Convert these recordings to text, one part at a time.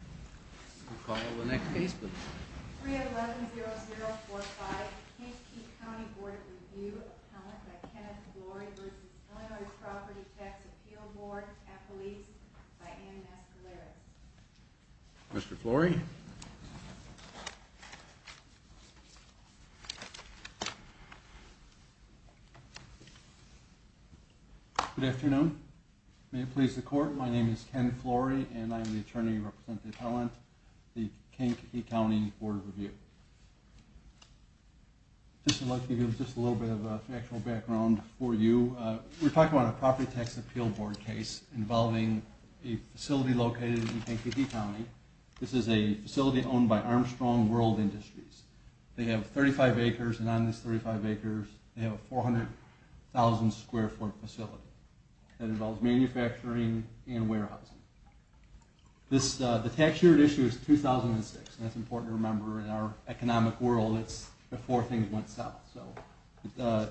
We'll call the next case please. 3-11-0-0-4-5 Kankakee County Board of Review Appellant by Kenneth Flory v. Illinois Property Tax Appeal Board Appellees by Ann Escalera. Mr. Flory. Good afternoon. May it please the court, my name is Ken Flory and I am the attorney representing the appellant, the Kankakee County Board of Review. Just a little bit of factual background for you. We're talking about a property tax appeal board case involving a facility located in Kankakee County. This is a facility owned by Armstrong World Industries. They have 35 acres and on this 35 acres they have a 400,000 square foot facility. It involves manufacturing and warehousing. The tax year at issue is 2006 and that's important to remember. In our economic world it's before things went south. So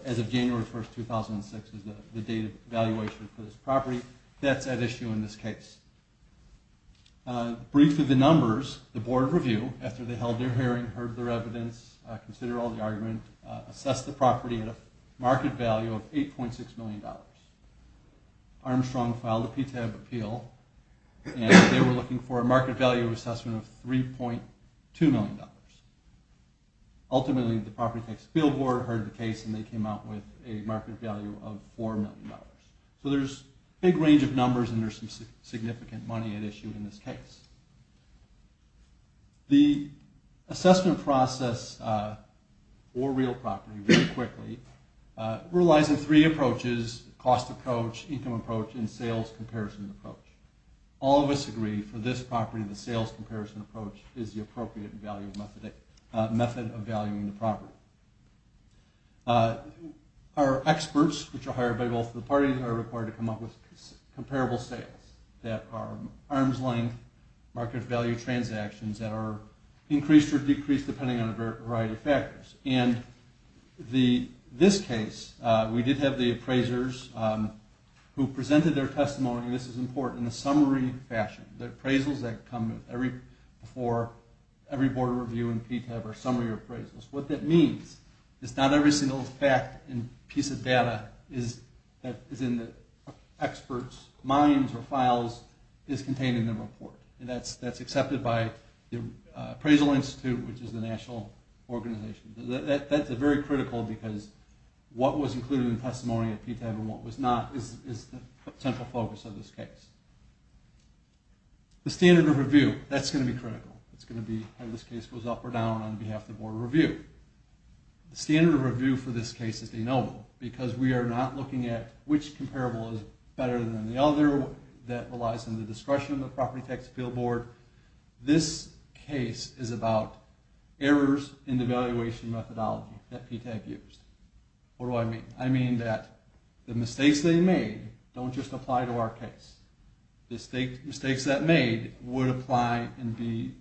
as of January 1st, 2006 is the date of valuation for this property. That's at issue in this case. Briefly the numbers, the board of review, after they held their hearing, heard their evidence, considered all the argument, assessed the property at a market value of $8.6 million. Armstrong filed a PTAB appeal and they were looking for a market value assessment of $3.2 million. Ultimately the property tax appeal board heard the case and they came out with a market value of $4 million. So there's a big range of numbers and there's some significant money at issue in this case. The assessment process, or real property really quickly, relies on three approaches, cost approach, income approach, and sales comparison approach. All of us agree for this property the sales comparison approach is the appropriate method of valuing the property. Our experts, which are hired by both of the parties, are required to come up with comparable sales that are arm's length market value transactions that are increased or decreased depending on a variety of factors. In this case we did have the appraisers who presented their testimony, and this is important, in a summary fashion. The appraisals that come before every board review in PTAB are summary appraisals. What that means is not every single fact and piece of data that is in the experts' minds or files is contained in the report. That's accepted by the Appraisal Institute, which is the national organization. That's very critical because what was included in the testimony at PTAB and what was not is the central focus of this case. The standard of review, that's going to be critical. It's going to be how this case goes up or down on behalf of the board of review. The standard of review for this case is de novo because we are not looking at which comparable is better than the other that relies on the discretion of the Property Tax Appeal Board. This case is about errors in the evaluation methodology that PTAB used. What do I mean? I mean that the mistakes they made don't just apply to our case. The mistakes that made would apply and be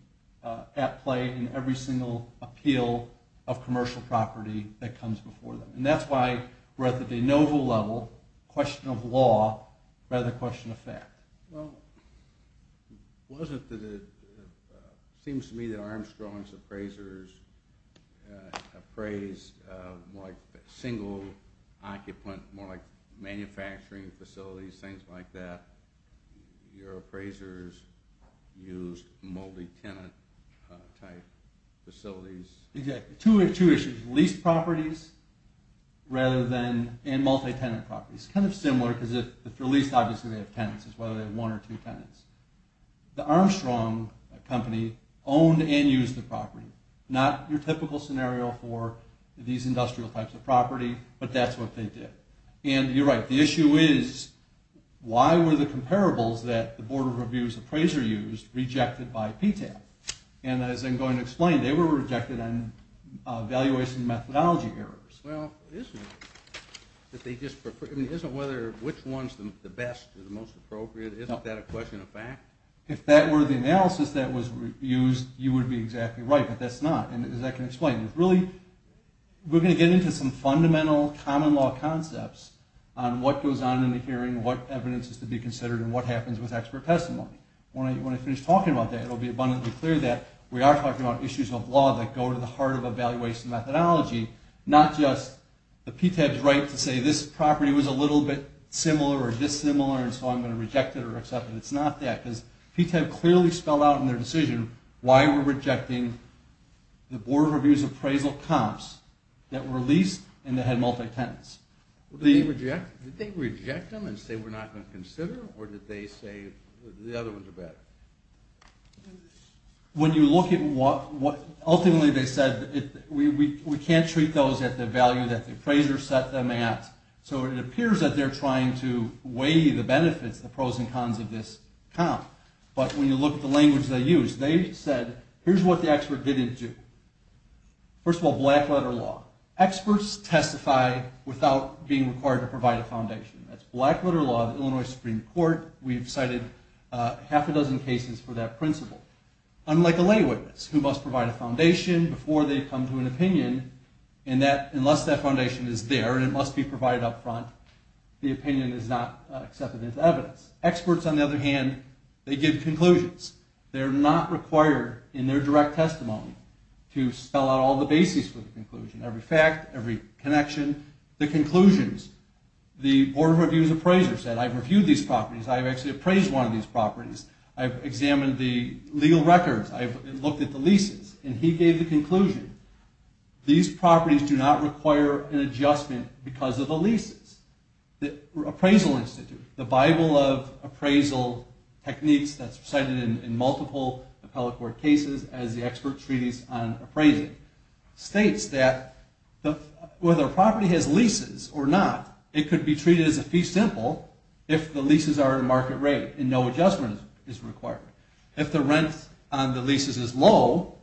at play in every single appeal of commercial property that comes before them. That's why we're at the de novo level, question of law rather than question of fact. Well, it seems to me that Armstrong's appraisers appraised single occupant, more like manufacturing facilities, things like that. Your appraisers used multi-tenant type facilities. Exactly, two issues, lease properties and multi-tenant properties. It's kind of similar because if they're leased, obviously they have tenants as well. They have one or two tenants. The Armstrong company owned and used the property. Not your typical scenario for these industrial types of property, but that's what they did. And you're right, the issue is why were the comparables that the board of review's appraiser used rejected by PTAB? And as I'm going to explain, they were rejected on evaluation methodology errors. Well, isn't it? Which one's the best or the most appropriate? Isn't that a question of fact? If that were the analysis that was used, you would be exactly right, but that's not. And as I can explain, we're going to get into some fundamental common law concepts on what goes on in the hearing, what evidence is to be considered, and what happens with expert testimony. When I finish talking about that, it will be abundantly clear that we are talking about issues of law that go to the heart of evaluation methodology, not just the PTAB's right to say this property was a little bit similar or dissimilar, and so I'm going to reject it or accept it. It's not that, because PTAB clearly spelled out in their decision why we're rejecting the board of review's appraisal comps that were leased and that had multi-tenants. Did they reject them and say we're not going to consider them, or did they say the other ones are better? When you look at what ultimately they said, we can't treat those at the value that the appraiser set them at, so it appears that they're trying to weigh the benefits, the pros and cons of this comp. But when you look at the language they used, they said, here's what the expert didn't do. First of all, black letter law. Experts testify without being required to provide a foundation. That's black letter law of the Illinois Supreme Court. We've cited half a dozen cases for that principle. Unlike a lay witness, who must provide a foundation before they come to an opinion, and unless that foundation is there and it must be provided up front, the opinion is not accepted as evidence. Experts, on the other hand, they give conclusions. They're not required in their direct testimony to spell out all the bases for the conclusion, every fact, every connection. The conclusions. The Board of Review's appraiser said, I've reviewed these properties. I've actually appraised one of these properties. I've examined the legal records. I've looked at the leases, and he gave the conclusion. These properties do not require an adjustment because of the leases. The Appraisal Institute, the Bible of appraisal techniques that's cited in multiple appellate court cases as the expert treaties on appraising, states that whether a property has leases or not, it could be treated as a fee simple if the leases are at a market rate and no adjustment is required. If the rent on the leases is low,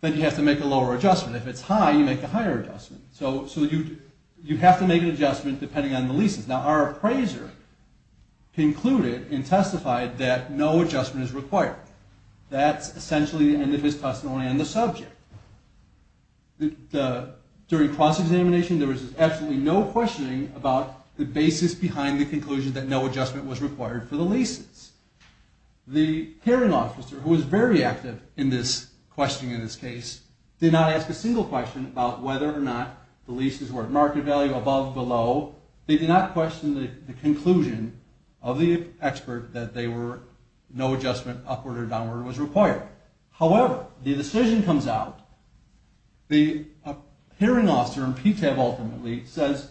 then you have to make a lower adjustment. If it's high, you make a higher adjustment. So you have to make an adjustment depending on the leases. Now, our appraiser concluded and testified that no adjustment is required. That's essentially the end of his testimony on the subject. During cross-examination, there was absolutely no questioning about the basis behind the conclusion that no adjustment was required for the leases. The hearing officer, who was very active in this questioning of this case, did not ask a single question about whether or not the leases were at market value, above, below. They did not question the conclusion of the expert that no adjustment, upward or downward, was required. However, the decision comes out. The hearing officer in PTAB ultimately says,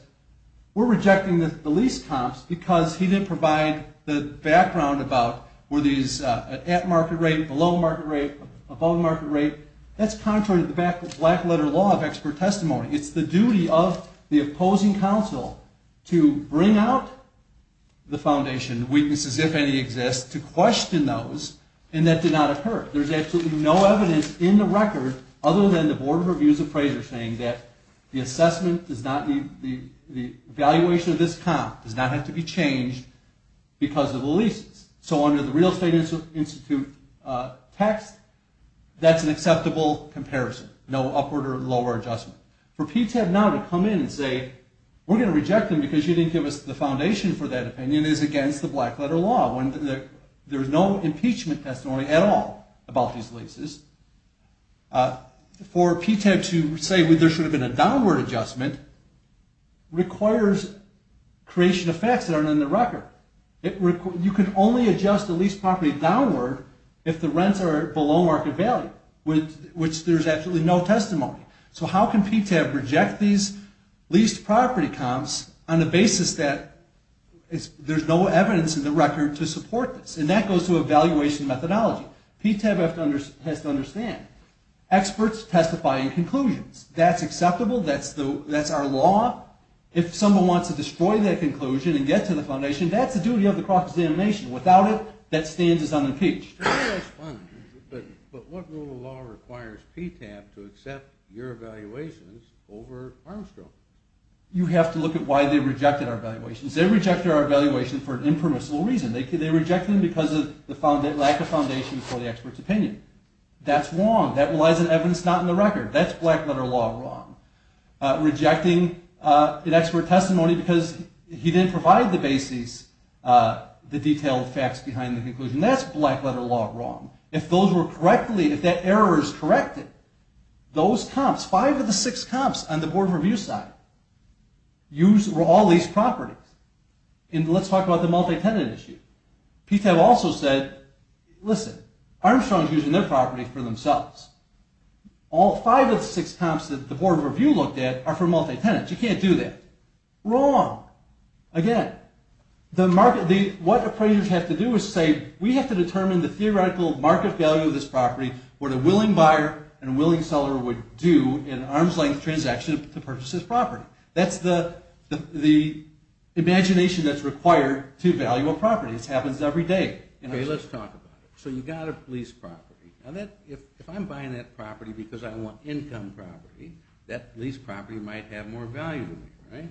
we're rejecting the lease comps because he didn't provide the background about, were these at market rate, below market rate, above market rate. That's contrary to the black-letter law of expert testimony. It's the duty of the opposing counsel to bring out the foundation weaknesses, if any exist, to question those, and that did not occur. There's absolutely no evidence in the record, other than the Board of Reviews appraiser saying that the assessment does not need, the evaluation of this comp does not have to be changed because of the leases. So under the Real Estate Institute text, that's an acceptable comparison. No upward or lower adjustment. For PTAB now to come in and say, we're going to reject them because you didn't give us the foundation for that opinion, is against the black-letter law. There's no impeachment testimony at all about these leases. For PTAB to say there should have been a downward adjustment, requires creation of facts that aren't in the record. You can only adjust a lease property downward if the rents are below market value, which there's absolutely no testimony. So how can PTAB reject these lease property comps on the basis that there's no evidence in the record to support this? And that goes to evaluation methodology. PTAB has to understand. Experts testify in conclusions. That's acceptable. That's our law. If someone wants to destroy that conclusion and get to the foundation, that's the duty of the cross-examination. Without it, that stand is unimpeached. But what rule of law requires PTAB to accept your evaluations over Armstrong? You have to look at why they rejected our evaluations. They rejected our evaluation for an impermissible reason. They rejected them because of the lack of foundation for the expert's opinion. That's wrong. That relies on evidence not in the record. That's black-letter law wrong. Rejecting an expert testimony because he didn't provide the basis, the detailed facts behind the conclusion. That's black-letter law wrong. If those were correctly, if that error is corrected, those comps, five of the six comps on the Board of Review side, use all these properties. And let's talk about the multi-tenant issue. PTAB also said, listen, Armstrong's using their property for themselves. All five of the six comps that the Board of Review looked at are for multi-tenants. You can't do that. Wrong. Again, what appraisers have to do is say, we have to determine the theoretical market value of this property, what a willing buyer and a willing seller would do in an arm's-length transaction to purchase this property. That's the imagination that's required to value a property. This happens every day. Okay, let's talk about it. So you've got a leased property. Now, if I'm buying that property because I want income property, that leased property might have more value to me, right?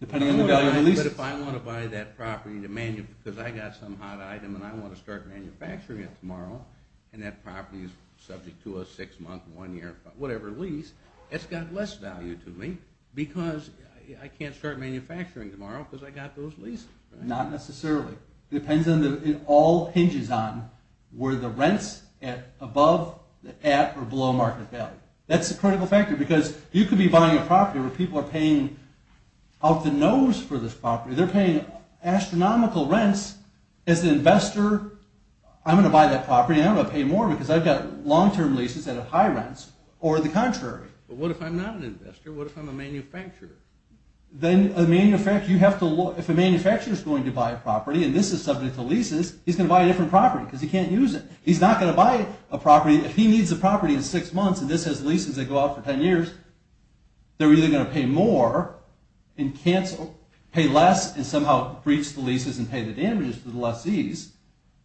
But if I want to buy that property because I got some hot item and I want to start manufacturing it tomorrow and that property is subject to a six-month, one-year, whatever lease, it's got less value to me because I can't start manufacturing tomorrow because I got those leases. Not necessarily. It all hinges on were the rents above, at, or below market value. That's a critical factor because you could be buying a property where people are paying out the nose for this property. They're paying astronomical rents. As an investor, I'm going to buy that property, and I'm going to pay more because I've got long-term leases that have high rents, or the contrary. But what if I'm not an investor? What if I'm a manufacturer? If a manufacturer is going to buy a property, and this is subject to leases, he's going to buy a different property because he can't use it. He's not going to buy a property. If he needs a property in six months, and this has leases that go off for 10 years, they're either going to pay more and pay less and somehow breach the leases and pay the damages to the lessees,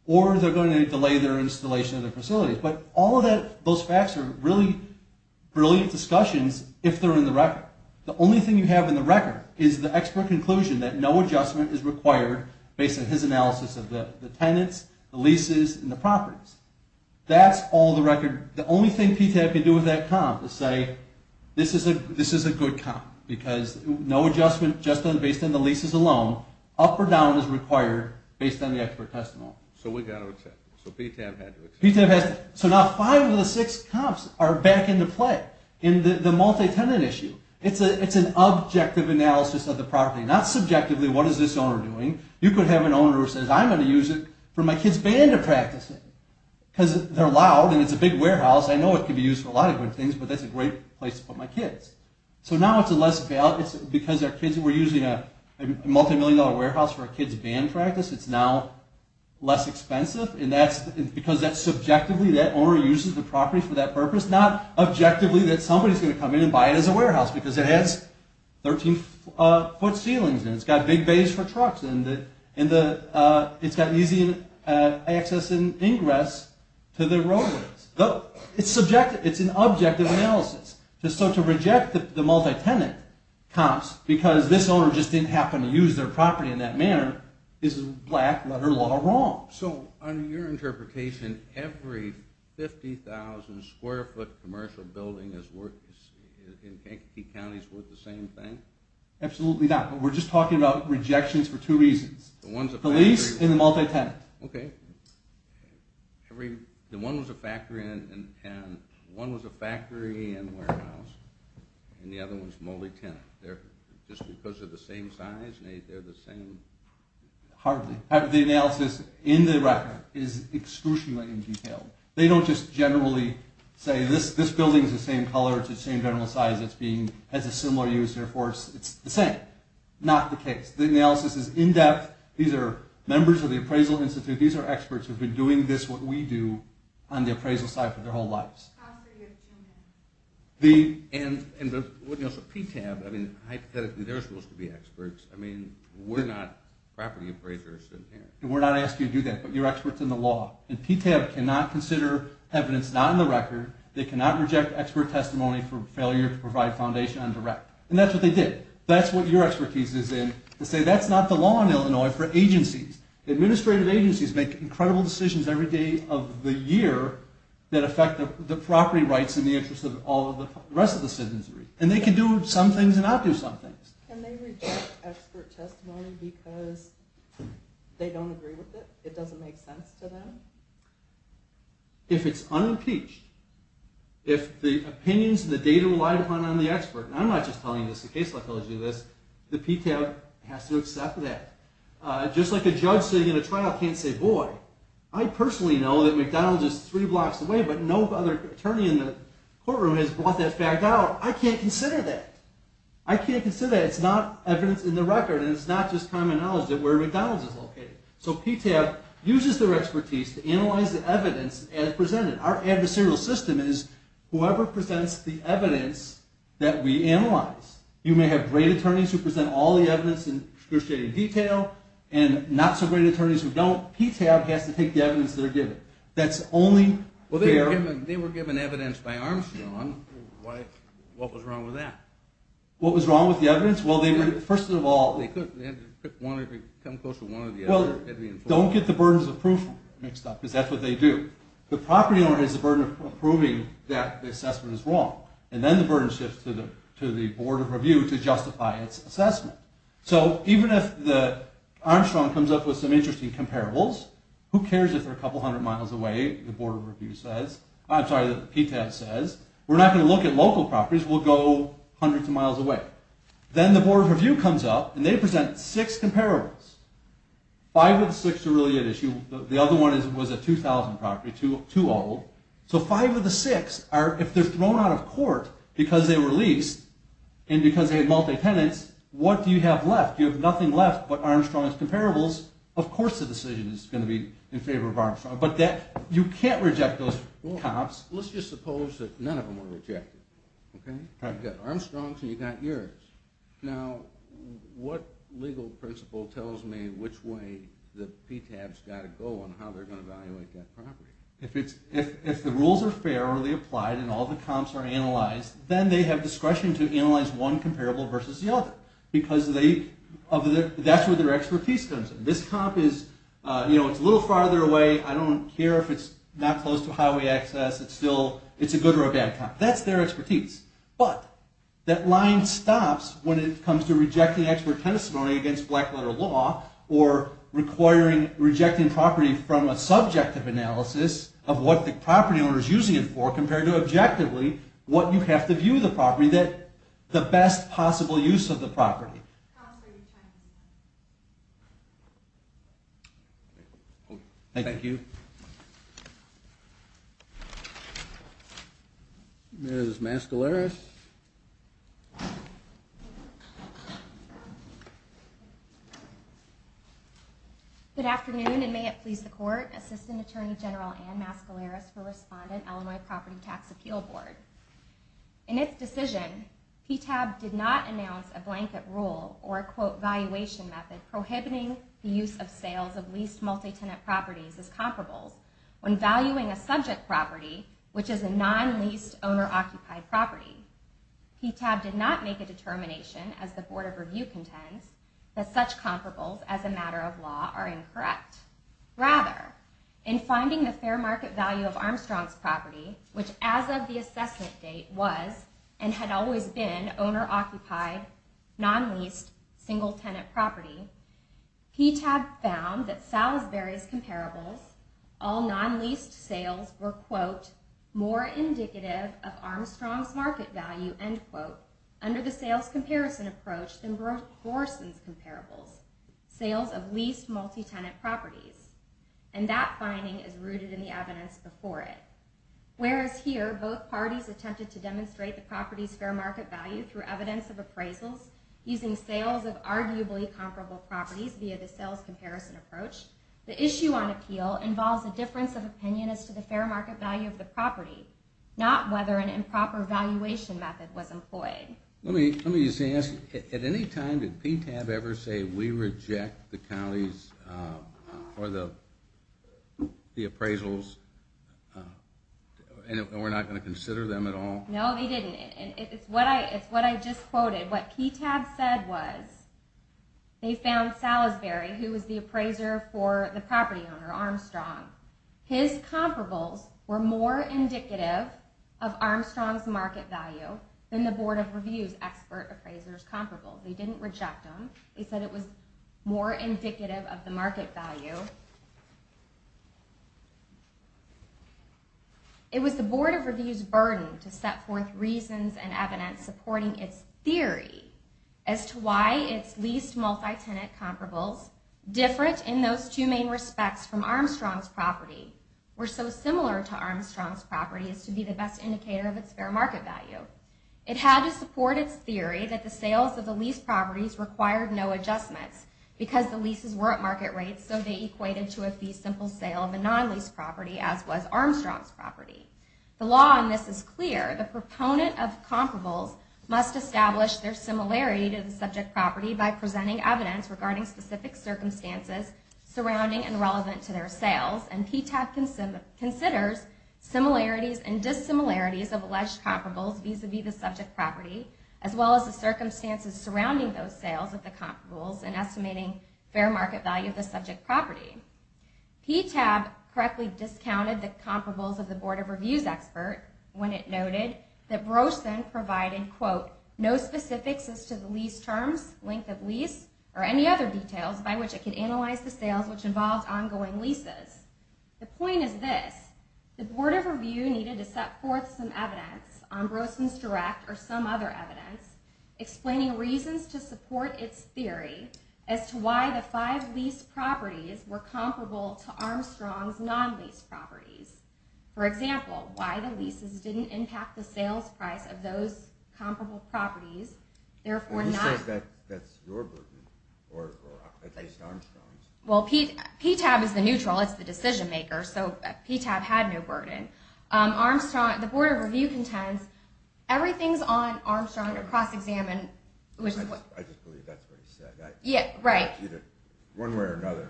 or they're going to delay their installation of their facilities. But all of those facts are really brilliant discussions if they're in the record. The only thing you have in the record is the expert conclusion that no adjustment is required based on his analysis of the tenants, the leases, and the properties. That's all the record. The only thing PTAB can do with that comp is say, this is a good comp because no adjustment based on the leases alone, up or down is required based on the expert testimony. So we've got to accept it. So PTAB had to accept it. PTAB has to. So now five of the six comps are back into play in the multi-tenant issue. It's an objective analysis of the property. Not subjectively, what is this owner doing? You could have an owner who says, I'm going to use it for my kid's band of practicing because they're loud and it's a big warehouse. I know it could be used for a lot of good things, but that's a great place to put my kids. So now it's a less valid, because we're using a multi-million dollar warehouse for a kid's band practice, it's now less expensive. And because that's subjectively, that owner uses the property for that purpose, not objectively that somebody's going to come in and buy it as a warehouse because it has 13-foot ceilings and it's got big bays for trucks and it's got easy access and ingress to the roadways. It's subjective. It's an objective analysis. So to reject the multi-tenant comps because this owner just didn't happen to use their property in that manner is black letter law wrong. So under your interpretation, every 50,000 square foot commercial building in Kankakee County is worth the same thing? Absolutely not. We're just talking about rejections for two reasons. The lease and the multi-tenant. Okay. The one was a factory and warehouse, and the other one's multi-tenant. Just because they're the same size, they're the same? Hardly. The analysis in the record is excruciatingly detailed. They don't just generally say, this building's the same color, it's the same general size, it has a similar use, it's the same. Not the case. The analysis is in-depth. These are members of the appraisal institute. These are experts who have been doing this, what we do, on the appraisal side for their whole lives. How so? You have two minutes. So PTAB, hypothetically, they're supposed to be experts. We're not property appraisers. We're not asking you to do that, but you're experts in the law. And PTAB cannot consider evidence not in the record. They cannot reject expert testimony for failure to provide foundation on direct. And that's what they did. That's what your expertise is in, to say that's not the law in Illinois for agencies. Administrative agencies make incredible decisions every day of the year that affect the property rights and the interests of the rest of the citizenry. And they can do some things and not do some things. Can they reject expert testimony because they don't agree with it? It doesn't make sense to them? If it's unimpeached, if the opinions and the data relied upon on the expert, and I'm not just telling you this in case I tell you this, the PTAB has to accept that. Just like a judge sitting in a trial can't say, boy, I personally know that McDonald's is three blocks away, but no other attorney in the courtroom has brought that fact out. I can't consider that. I can't consider that. It's not evidence in the record, and it's not just common knowledge that where McDonald's is located. So PTAB uses their expertise to analyze the evidence as presented. Our adversarial system is whoever presents the evidence that we analyze. You may have great attorneys who present all the evidence in excruciating detail and not-so-great attorneys who don't. PTAB has to take the evidence they're given. That's only fair... Well, they were given evidence by Armstrong. What was wrong with that? What was wrong with the evidence? Well, they were, first of all... They had to come close to one or the other. Well, don't get the burdens of proof mixed up, because that's what they do. The property owner has the burden of proving that the assessment is wrong, and then the burden shifts to the Board of Review to justify its assessment. So even if Armstrong comes up with some interesting comparables, who cares if they're a couple hundred miles away, the Board of Review says. I'm sorry, the PTAB says. We're not going to look at local properties. We'll go hundreds of miles away. Then the Board of Review comes up, and they present six comparables. Five of the six are really at issue. The other one was a 2000 property, too old. So five of the six are... If they're thrown out of court because they were leased, and because they had multi-tenants, what do you have left? You have nothing left but Armstrong's comparables. Of course the decision is going to be in favor of Armstrong. But you can't reject those comps. Let's just suppose that none of them were rejected. You've got Armstrong's, and you've got yours. Now, what legal principle tells me which way the PTAB's got to go on how they're going to evaluate that property? If the rules are fairly applied, and all the comps are analyzed, then they have discretion to analyze one comparable versus the other, because that's where their expertise comes in. This comp is a little farther away. I don't care if it's not close to highway access. It's a good or a bad comp. That's their expertise. But that line stops when it comes to rejecting expert testimony against black-letter law, or rejecting property from a subjective analysis of what the property owner is using it for compared to objectively what you have to view the property, the best possible use of the property. Comps are your choice. Thank you. Thank you. Ms. Mascaleras. Good afternoon, and may it please the Court, Assistant Attorney General Ann Mascaleras for Respondent, Illinois Property Tax Appeal Board. In its decision, PTAB did not announce a blanket rule or a quote, valuation method prohibiting the use of sales of leased multi-tenant properties as comparables when valuing a subject property, which is a non-leased owner-occupied property. PTAB did not make a determination, as the Board of Review contends, that such comparables as a matter of law are incorrect. Rather, in finding the fair market value of Armstrong's property, which as of the assessment date was and had always been owner-occupied, non-leased, single-tenant property, PTAB found that Salisbury's comparables, all non-leased sales were, quote, more indicative of Armstrong's market value, end quote, under the sales comparison approach than Borson's comparables, sales of leased multi-tenant properties. And that finding is rooted in the evidence before it. Whereas here, both parties attempted to demonstrate the property's fair market value through evidence of appraisals using sales of arguably comparable properties via the sales comparison approach, the issue on appeal involves a difference of opinion as to the fair market value of the property, not whether an improper valuation method was employed. Let me just ask, at any time did PTAB ever say, we reject the county's, or the appraisals, and we're not going to consider them at all? No, they didn't. It's what I just quoted. What PTAB said was, they found Salisbury, who was the appraiser for the property owner Armstrong, his comparables were more indicative of Armstrong's market value than the Board of Review's expert appraisers' comparables. They didn't reject them. They said it was more indicative of the market value. It was the Board of Review's burden to set forth reasons and evidence supporting its theory as to why its leased multi-tenant comparables, different in those two main respects from Armstrong's property, were so similar to Armstrong's property as to be the best indicator of its fair market value. It had to support its theory that the sales of the leased properties required no adjustments because the leases were at market rates, so they equated to a fee-simple sale of a non-leased property, as was Armstrong's property. The law on this is clear. The proponent of comparables must establish their similarity to the subject property by presenting evidence regarding specific circumstances surrounding and relevant to their sales, and PTAB considers similarities and dissimilarities of alleged comparables vis-a-vis the subject property as well as the circumstances surrounding those sales of the comparables in estimating fair market value of the subject property. PTAB correctly discounted the comparables of the Board of Review's expert when it noted that Brosen provided, quote, no specifics as to the lease terms, length of lease, or any other details by which it could analyze the sales which involved ongoing leases. The point is this. The Board of Review needed to set forth some evidence on Brosen's direct or some other evidence explaining reasons to support its theory as to why the five leased properties were comparable to Armstrong's non-leased properties. For example, why the leases didn't impact the sales price of those comparable properties, therefore not... He says that's your burden, or at least Armstrong's. Well, PTAB is the neutral. It's the decision maker, so PTAB had no burden. Armstrong, the Board of Review contends everything's on Armstrong to cross-examine, which is what... I just believe that's what he said. Yeah, right. Either one way or another.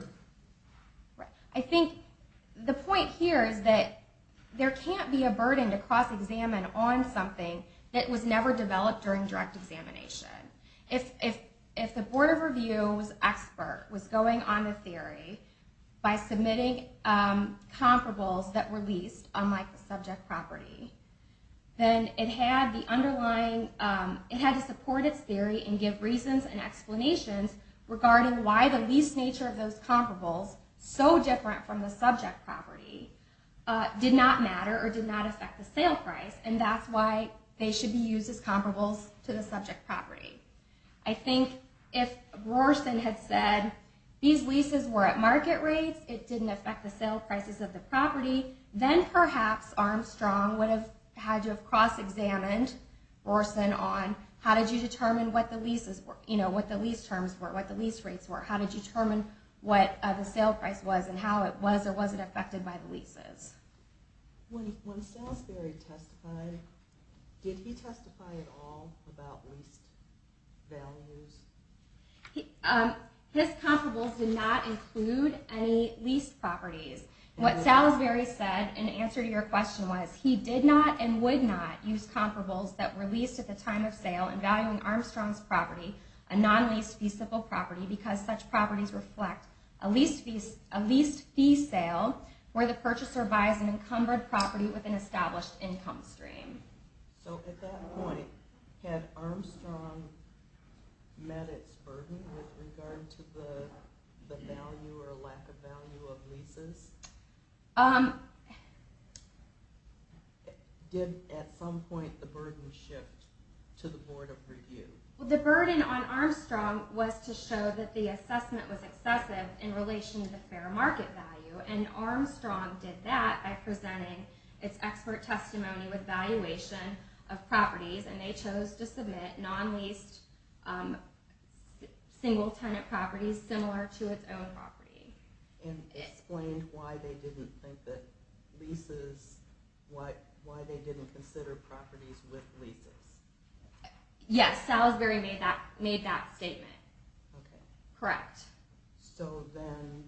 Right. I think the point here is that there can't be a burden to cross-examine on something that was never developed during direct examination. If the Board of Review's expert was going on the theory by submitting comparables that were leased unlike the subject property, then it had the underlying... It had to support its theory and give reasons and explanations regarding why the leased nature of those comparables so different from the subject property did not matter or did not affect the sale price, and that's why they should be used as comparables to the subject property. I think if Rorson had said these leases were at market rates, it didn't affect the sale prices of the property, then perhaps Armstrong would have had to have cross-examined Rorson on how did you determine what the lease terms were, what the lease rates were, how to determine what the sale price was and how it was or wasn't affected by the leases. When Salisbury testified, did he testify at all about leased values? His comparables did not include any leased properties. What Salisbury said in answer to your question was he did not and would not use comparables that were leased at the time of sale in valuing Armstrong's property, a non-leased feasible property because such properties reflect a leased fee sale where the purchaser buys an encumbered property with an established income stream. So at that point, had Armstrong met its burden with regard to the value or lack of value of leases? Did at some point the burden shift to the Board of Review? The burden on Armstrong was to show that the assessment was excessive in relation to fair market value and Armstrong did that by presenting its expert testimony with valuation of properties and they chose to submit non-leased single-tenant properties similar to its own property. that leases, why they didn't consider properties with leases? Yes, Salisbury made that statement. Correct. So then,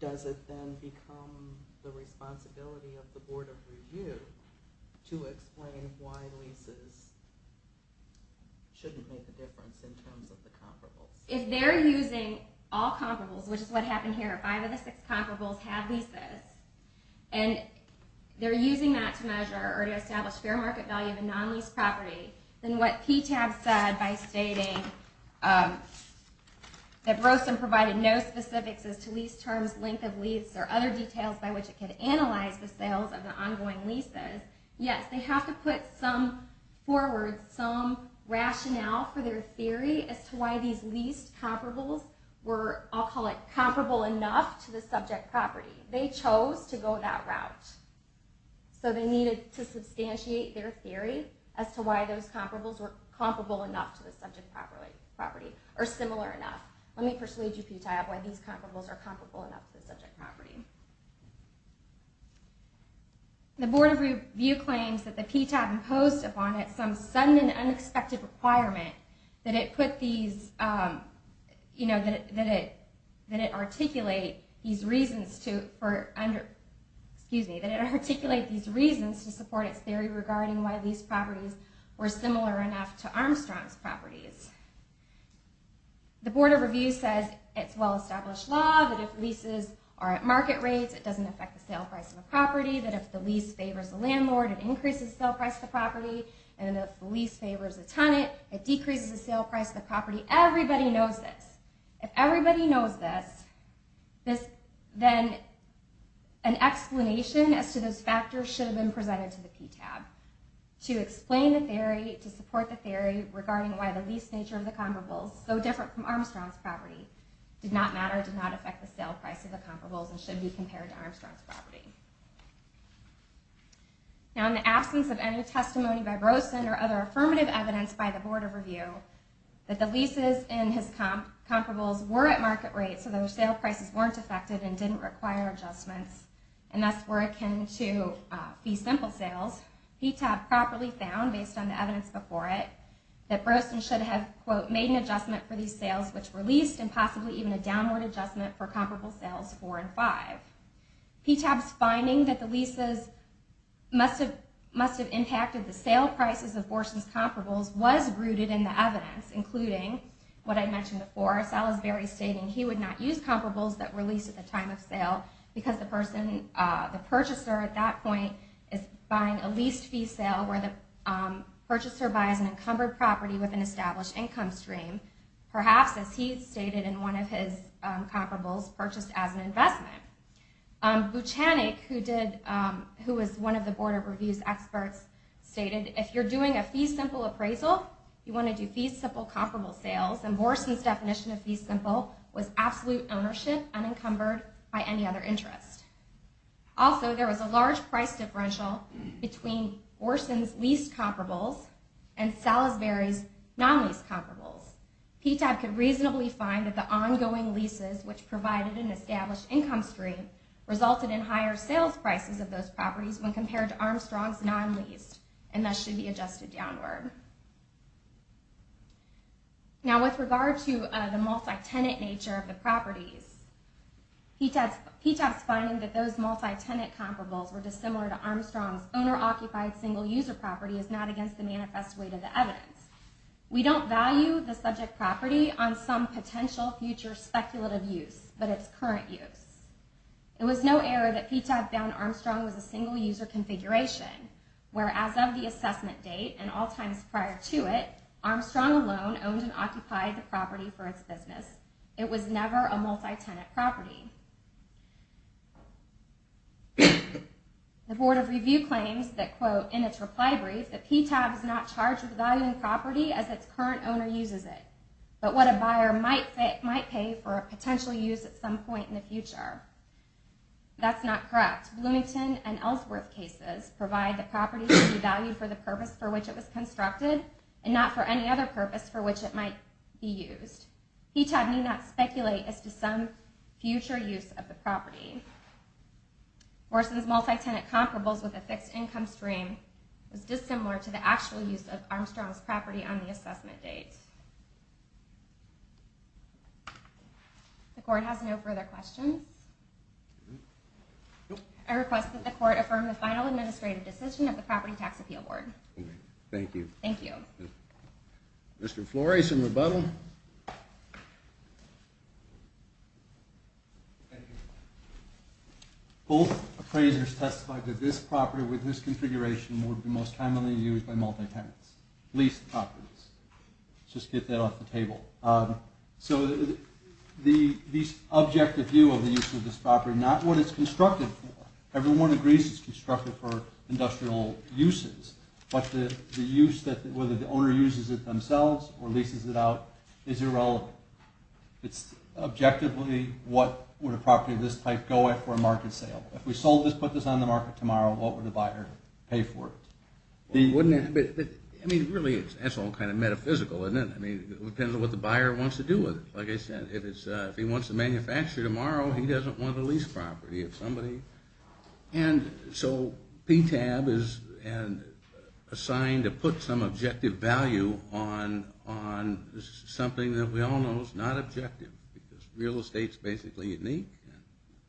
does it then become the responsibility of the Board of Review to explain why leases shouldn't make a difference in terms of the comparables? If they're using all comparables, which is what happened here, five of the six comparables have leases and they're using that to measure or to establish fair market value of a non-leased property, then what PTAB said by stating that Broson provided no specifics as to lease terms, length of lease, or other details by which it can analyze the sales of the ongoing leases, yes, they have to put some forward, some rationale for their theory as to why these leased comparables were, I'll call it, comparable enough to the subject property. They chose to go that route. So they needed to substantiate their theory as to why those comparables were comparable enough to the subject property or similar enough. Let me persuade you, PTAB, why these comparables are comparable enough to the subject property. The Board of Review claims that the PTAB imposed upon it some sudden and unexpected requirement that it articulate these reasons to support its theory regarding why these properties were similar enough to Armstrong's properties. The Board of Review says it's well-established law that if leases are at market rates, it doesn't affect the sale price of a property, that if the lease favors a landlord, it increases the sale price of the property, and if the lease favors a tenant, it decreases the sale price of the property. Everybody knows this. If everybody knows this, then an explanation as to those factors should have been presented to the PTAB to explain the theory, to support the theory regarding why the lease nature of the comparables, though different from Armstrong's property, did not matter, did not affect the sale price of the comparables, and should be compared to Armstrong's property. Now, in the absence of any testimony by Rosen or other affirmative evidence by the Board of Review, that the leases in his comparables were at market rates, so their sale prices weren't affected and didn't require adjustments, and thus were akin to fee simple sales, PTAB properly found, based on the evidence before it, that Rosen should have, quote, made an adjustment for these sales, which were leased, and possibly even a downward adjustment for comparable sales four and five. PTAB's finding that the leases must have impacted the sale prices of Borson's comparables was rooted in the evidence, including what I mentioned before, Salisbury stating he would not use comparables that were leased at the time of sale because the person, the purchaser at that point, is buying a leased fee sale where the purchaser buys an encumbered property with an established income stream, perhaps, as he stated in one of his comparables, purchased as an investment. Buchanek, who was one of the Board of Review's experts, stated, if you're doing a fee simple appraisal, you want to do fee simple comparable sales, and Borson's definition of fee simple was absolute ownership unencumbered by any other interest. Also, there was a large price differential between Borson's leased comparables and Salisbury's non-leased comparables. PTAB could reasonably find that the ongoing leases which provided an established income stream resulted in higher sales prices of those properties when compared to Armstrong's non-leased, and that should be adjusted downward. Now, with regard to the multi-tenant nature of the properties, PTAB's finding that those multi-tenant comparables were dissimilar to Armstrong's owner-occupied single-user property is not against the manifest weight of the evidence. We don't value the subject property on some potential future speculative use, but its current use. It was no error that PTAB found Armstrong was a single-user configuration, whereas of the assessment date and all times prior to it, Armstrong alone owned and occupied the property for its business. It was never a multi-tenant property. The Board of Review claims that, quote, in its reply brief, that PTAB is not charged with valuing the property as its current owner uses it, but what a buyer might pay for a potential use at some point in the future. That's not correct. Bloomington and Ellsworth cases provide the property to be valued for the purpose for which it was constructed and not for any other purpose for which it might be used. PTAB need not speculate as to some future use of the property. Worsen's multi-tenant comparables with a fixed income stream was dissimilar to the actual use of Armstrong's property on the assessment date. The Court has no further questions. affirm the final administrative decision of the Property Tax Appeal Board. Thank you. Thank you. Mr. Flores and the Board of Review are adjourned. Mr. Butler. Both appraisers testified that this property with this configuration would be most commonly used by multi-tenants. Leased properties. Just get that off the table. So, the objective view of the use of this property not what it's constructed for. Everyone agrees it's constructed for industrial uses but the use that the owner uses it themselves or leases it out is irrelevant. It's objectively what would a property of this type go at for a market sale. If we sold this, put this on the market tomorrow, what would the buyer pay for it? Wouldn't it? I mean, really, that's all kind of metaphysical, isn't it? I mean, it depends on what the buyer wants to do with it. Like I said, if he wants to manufacture it tomorrow, he doesn't want a leased property. And so, PTAB is assigned to put some objective value on something that we all know is not objective. Real estate's basically unique.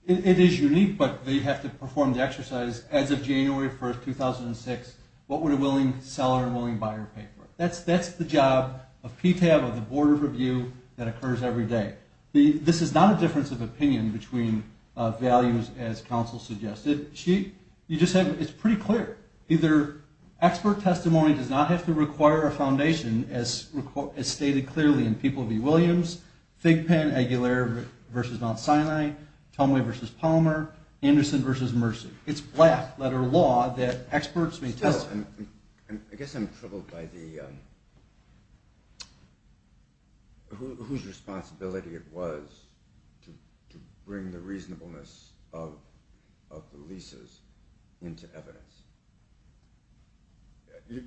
It is unique but they have to perform the exercise as of January 1st, 2006, what would a willing seller and willing buyer pay for it? That's the job of PTAB or the Board of Review that occurs every day. This is not a difference of opinion between values as counsel suggested. It's pretty clear. Either expert testimony does not have to require a foundation as stated clearly in People v. Williams, Fig Pen, Aguilar v. Mount Sinai, Tumway v. Palmer, Anderson v. Mercy. It's black letter law that experts may testify. I guess I'm troubled by the whose responsibility it was to bring the reasonableness of the leases into evidence.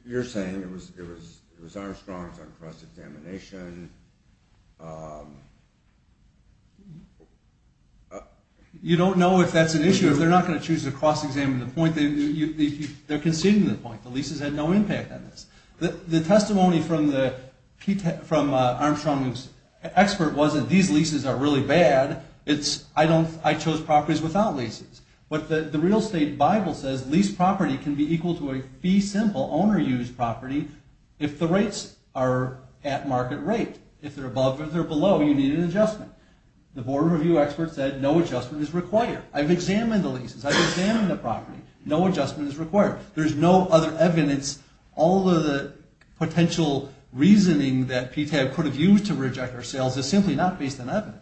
You're saying it was Armstrong's on cross examination. You don't know if that's an issue. If they're not going to choose a cross exam, the point is they're conceding the point. The leases had no impact on this. The testimony from Armstrong's expert was that these leases are really bad. I chose properties without leases. But the real estate Bible says lease property can be equal to a fee simple owner use property if the rates are at market rate. If they're above or below, you need an adjustment. The Board of Review experts said no adjustment is required. I've examined the leases. I've examined the property. No adjustment is required. There's no other evidence. All of the potential reasoning that PTAB could have used to reject our sales is simply not based on evidence.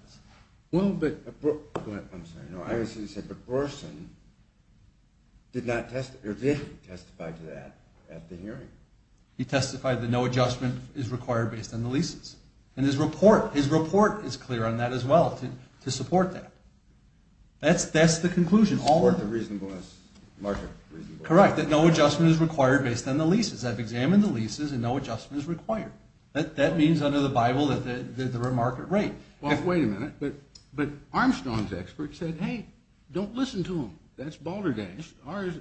Go ahead. I'm sorry. But Orson did testify to that at the hearing. He testified that no adjustment is required based on the leases. And his report is clear on that as well to support that. That's the conclusion. Correct. That no adjustment is required based on the leases. I've examined the leases and no adjustment is required. Correct. Well, wait a minute. But Armstrong's expert said, hey, don't listen to him. That's balderdash.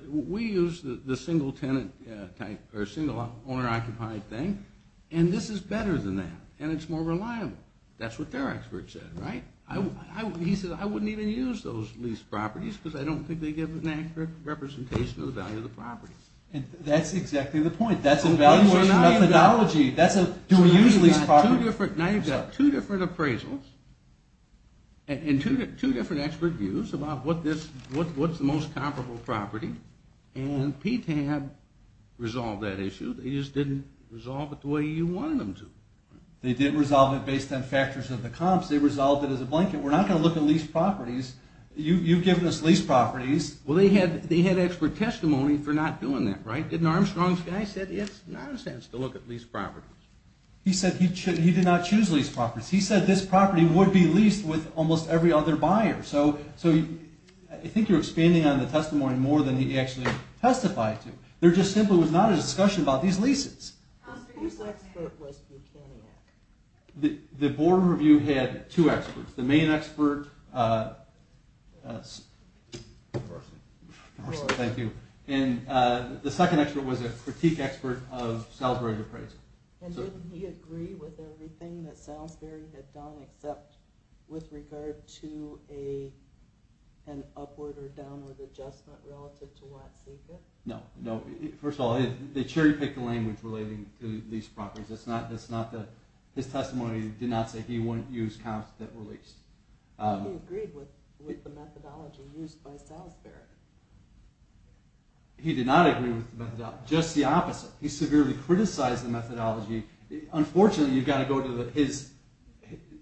We use the single tenant type or single owner-occupied thing and this is better than that and it's more reliable. That's what their expert said, right? He said, I wouldn't even use those lease properties. well, there are two different appraisals and two different expert views about what's the most comparable property and PTAB resolved that issue. didn't resolve it the way you wanted them to. They did resolve it based on factors of the comps. They resolved it as a blanket. We're not going to look at lease properties. You've given us lease properties. They had expert testimony for not doing that. Armstrong said it's nonsense to look at lease properties. He said this property would be leased with almost every other buyer. I think you're expanding on the testimony more than he testified to. It was not a discussion about these leases. The board review had two experts. The main expert and the second expert was a critique expert of Salisbury appraisal. Didn't he agree with everything that Salisbury had done except with regard to an upward or downward adjustment relative to property. First of all, they cherry-picked the language relating to these properties. His testimony did not say he wouldn't use counts that were leased. He did not agree with the methodology. Just the opposite. He severely criticized the methodology. Unfortunately, you've got to go to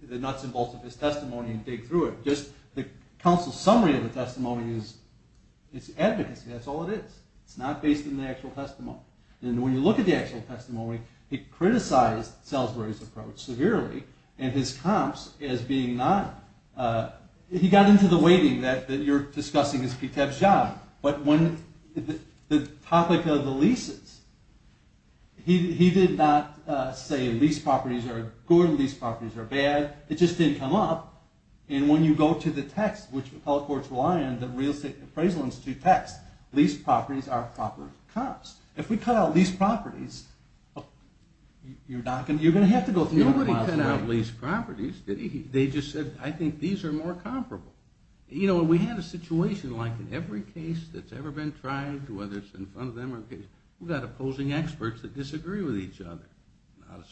the nuts and bolts. The testimony is advocacy. That's all it is. It's not based on the actual testimony. When you look at the testimony, he criticized Salisbury's approach severely. He got into the weighting that you're discussing as PTEB's job. The topic of PTEB is the real estate appraisal institute tax. Leased properties are proper costs. If we cut out leased properties, you're going to have to go through the process. Nobody cut out leased properties. I think these are more than real estate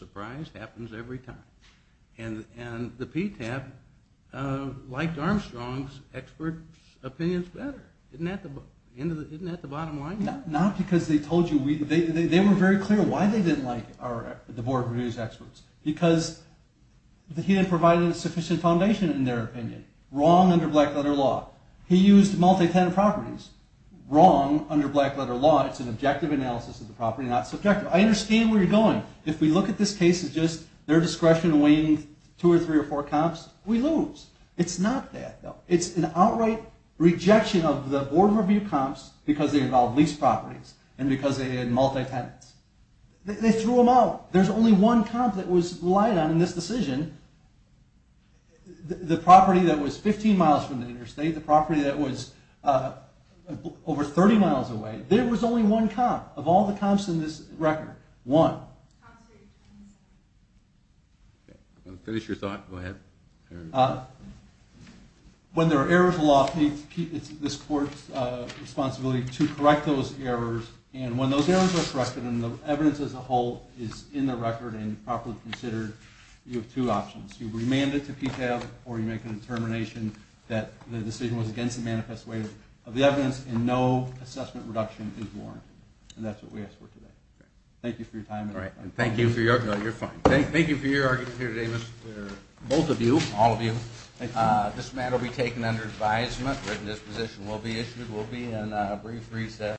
appraisal institute. PTEB liked Armstrong's expert opinions better. Isn't that the bottom line? Not because they told you. They were very clear why they didn't like the experts. He didn't provide a sufficient answer. we have two or three comps, we lose. It's an outright rejection of the board of review comps. They threw them out. There's only one comp that was relied on in this decision. The board of review did not provide a sufficient board of review comps did not provide a sufficient answer. The board of review comps did not provide a sufficient board of review comps. board of review does provide a sufficient board of review comps. The board of review does not provide a sufficient board of review comps.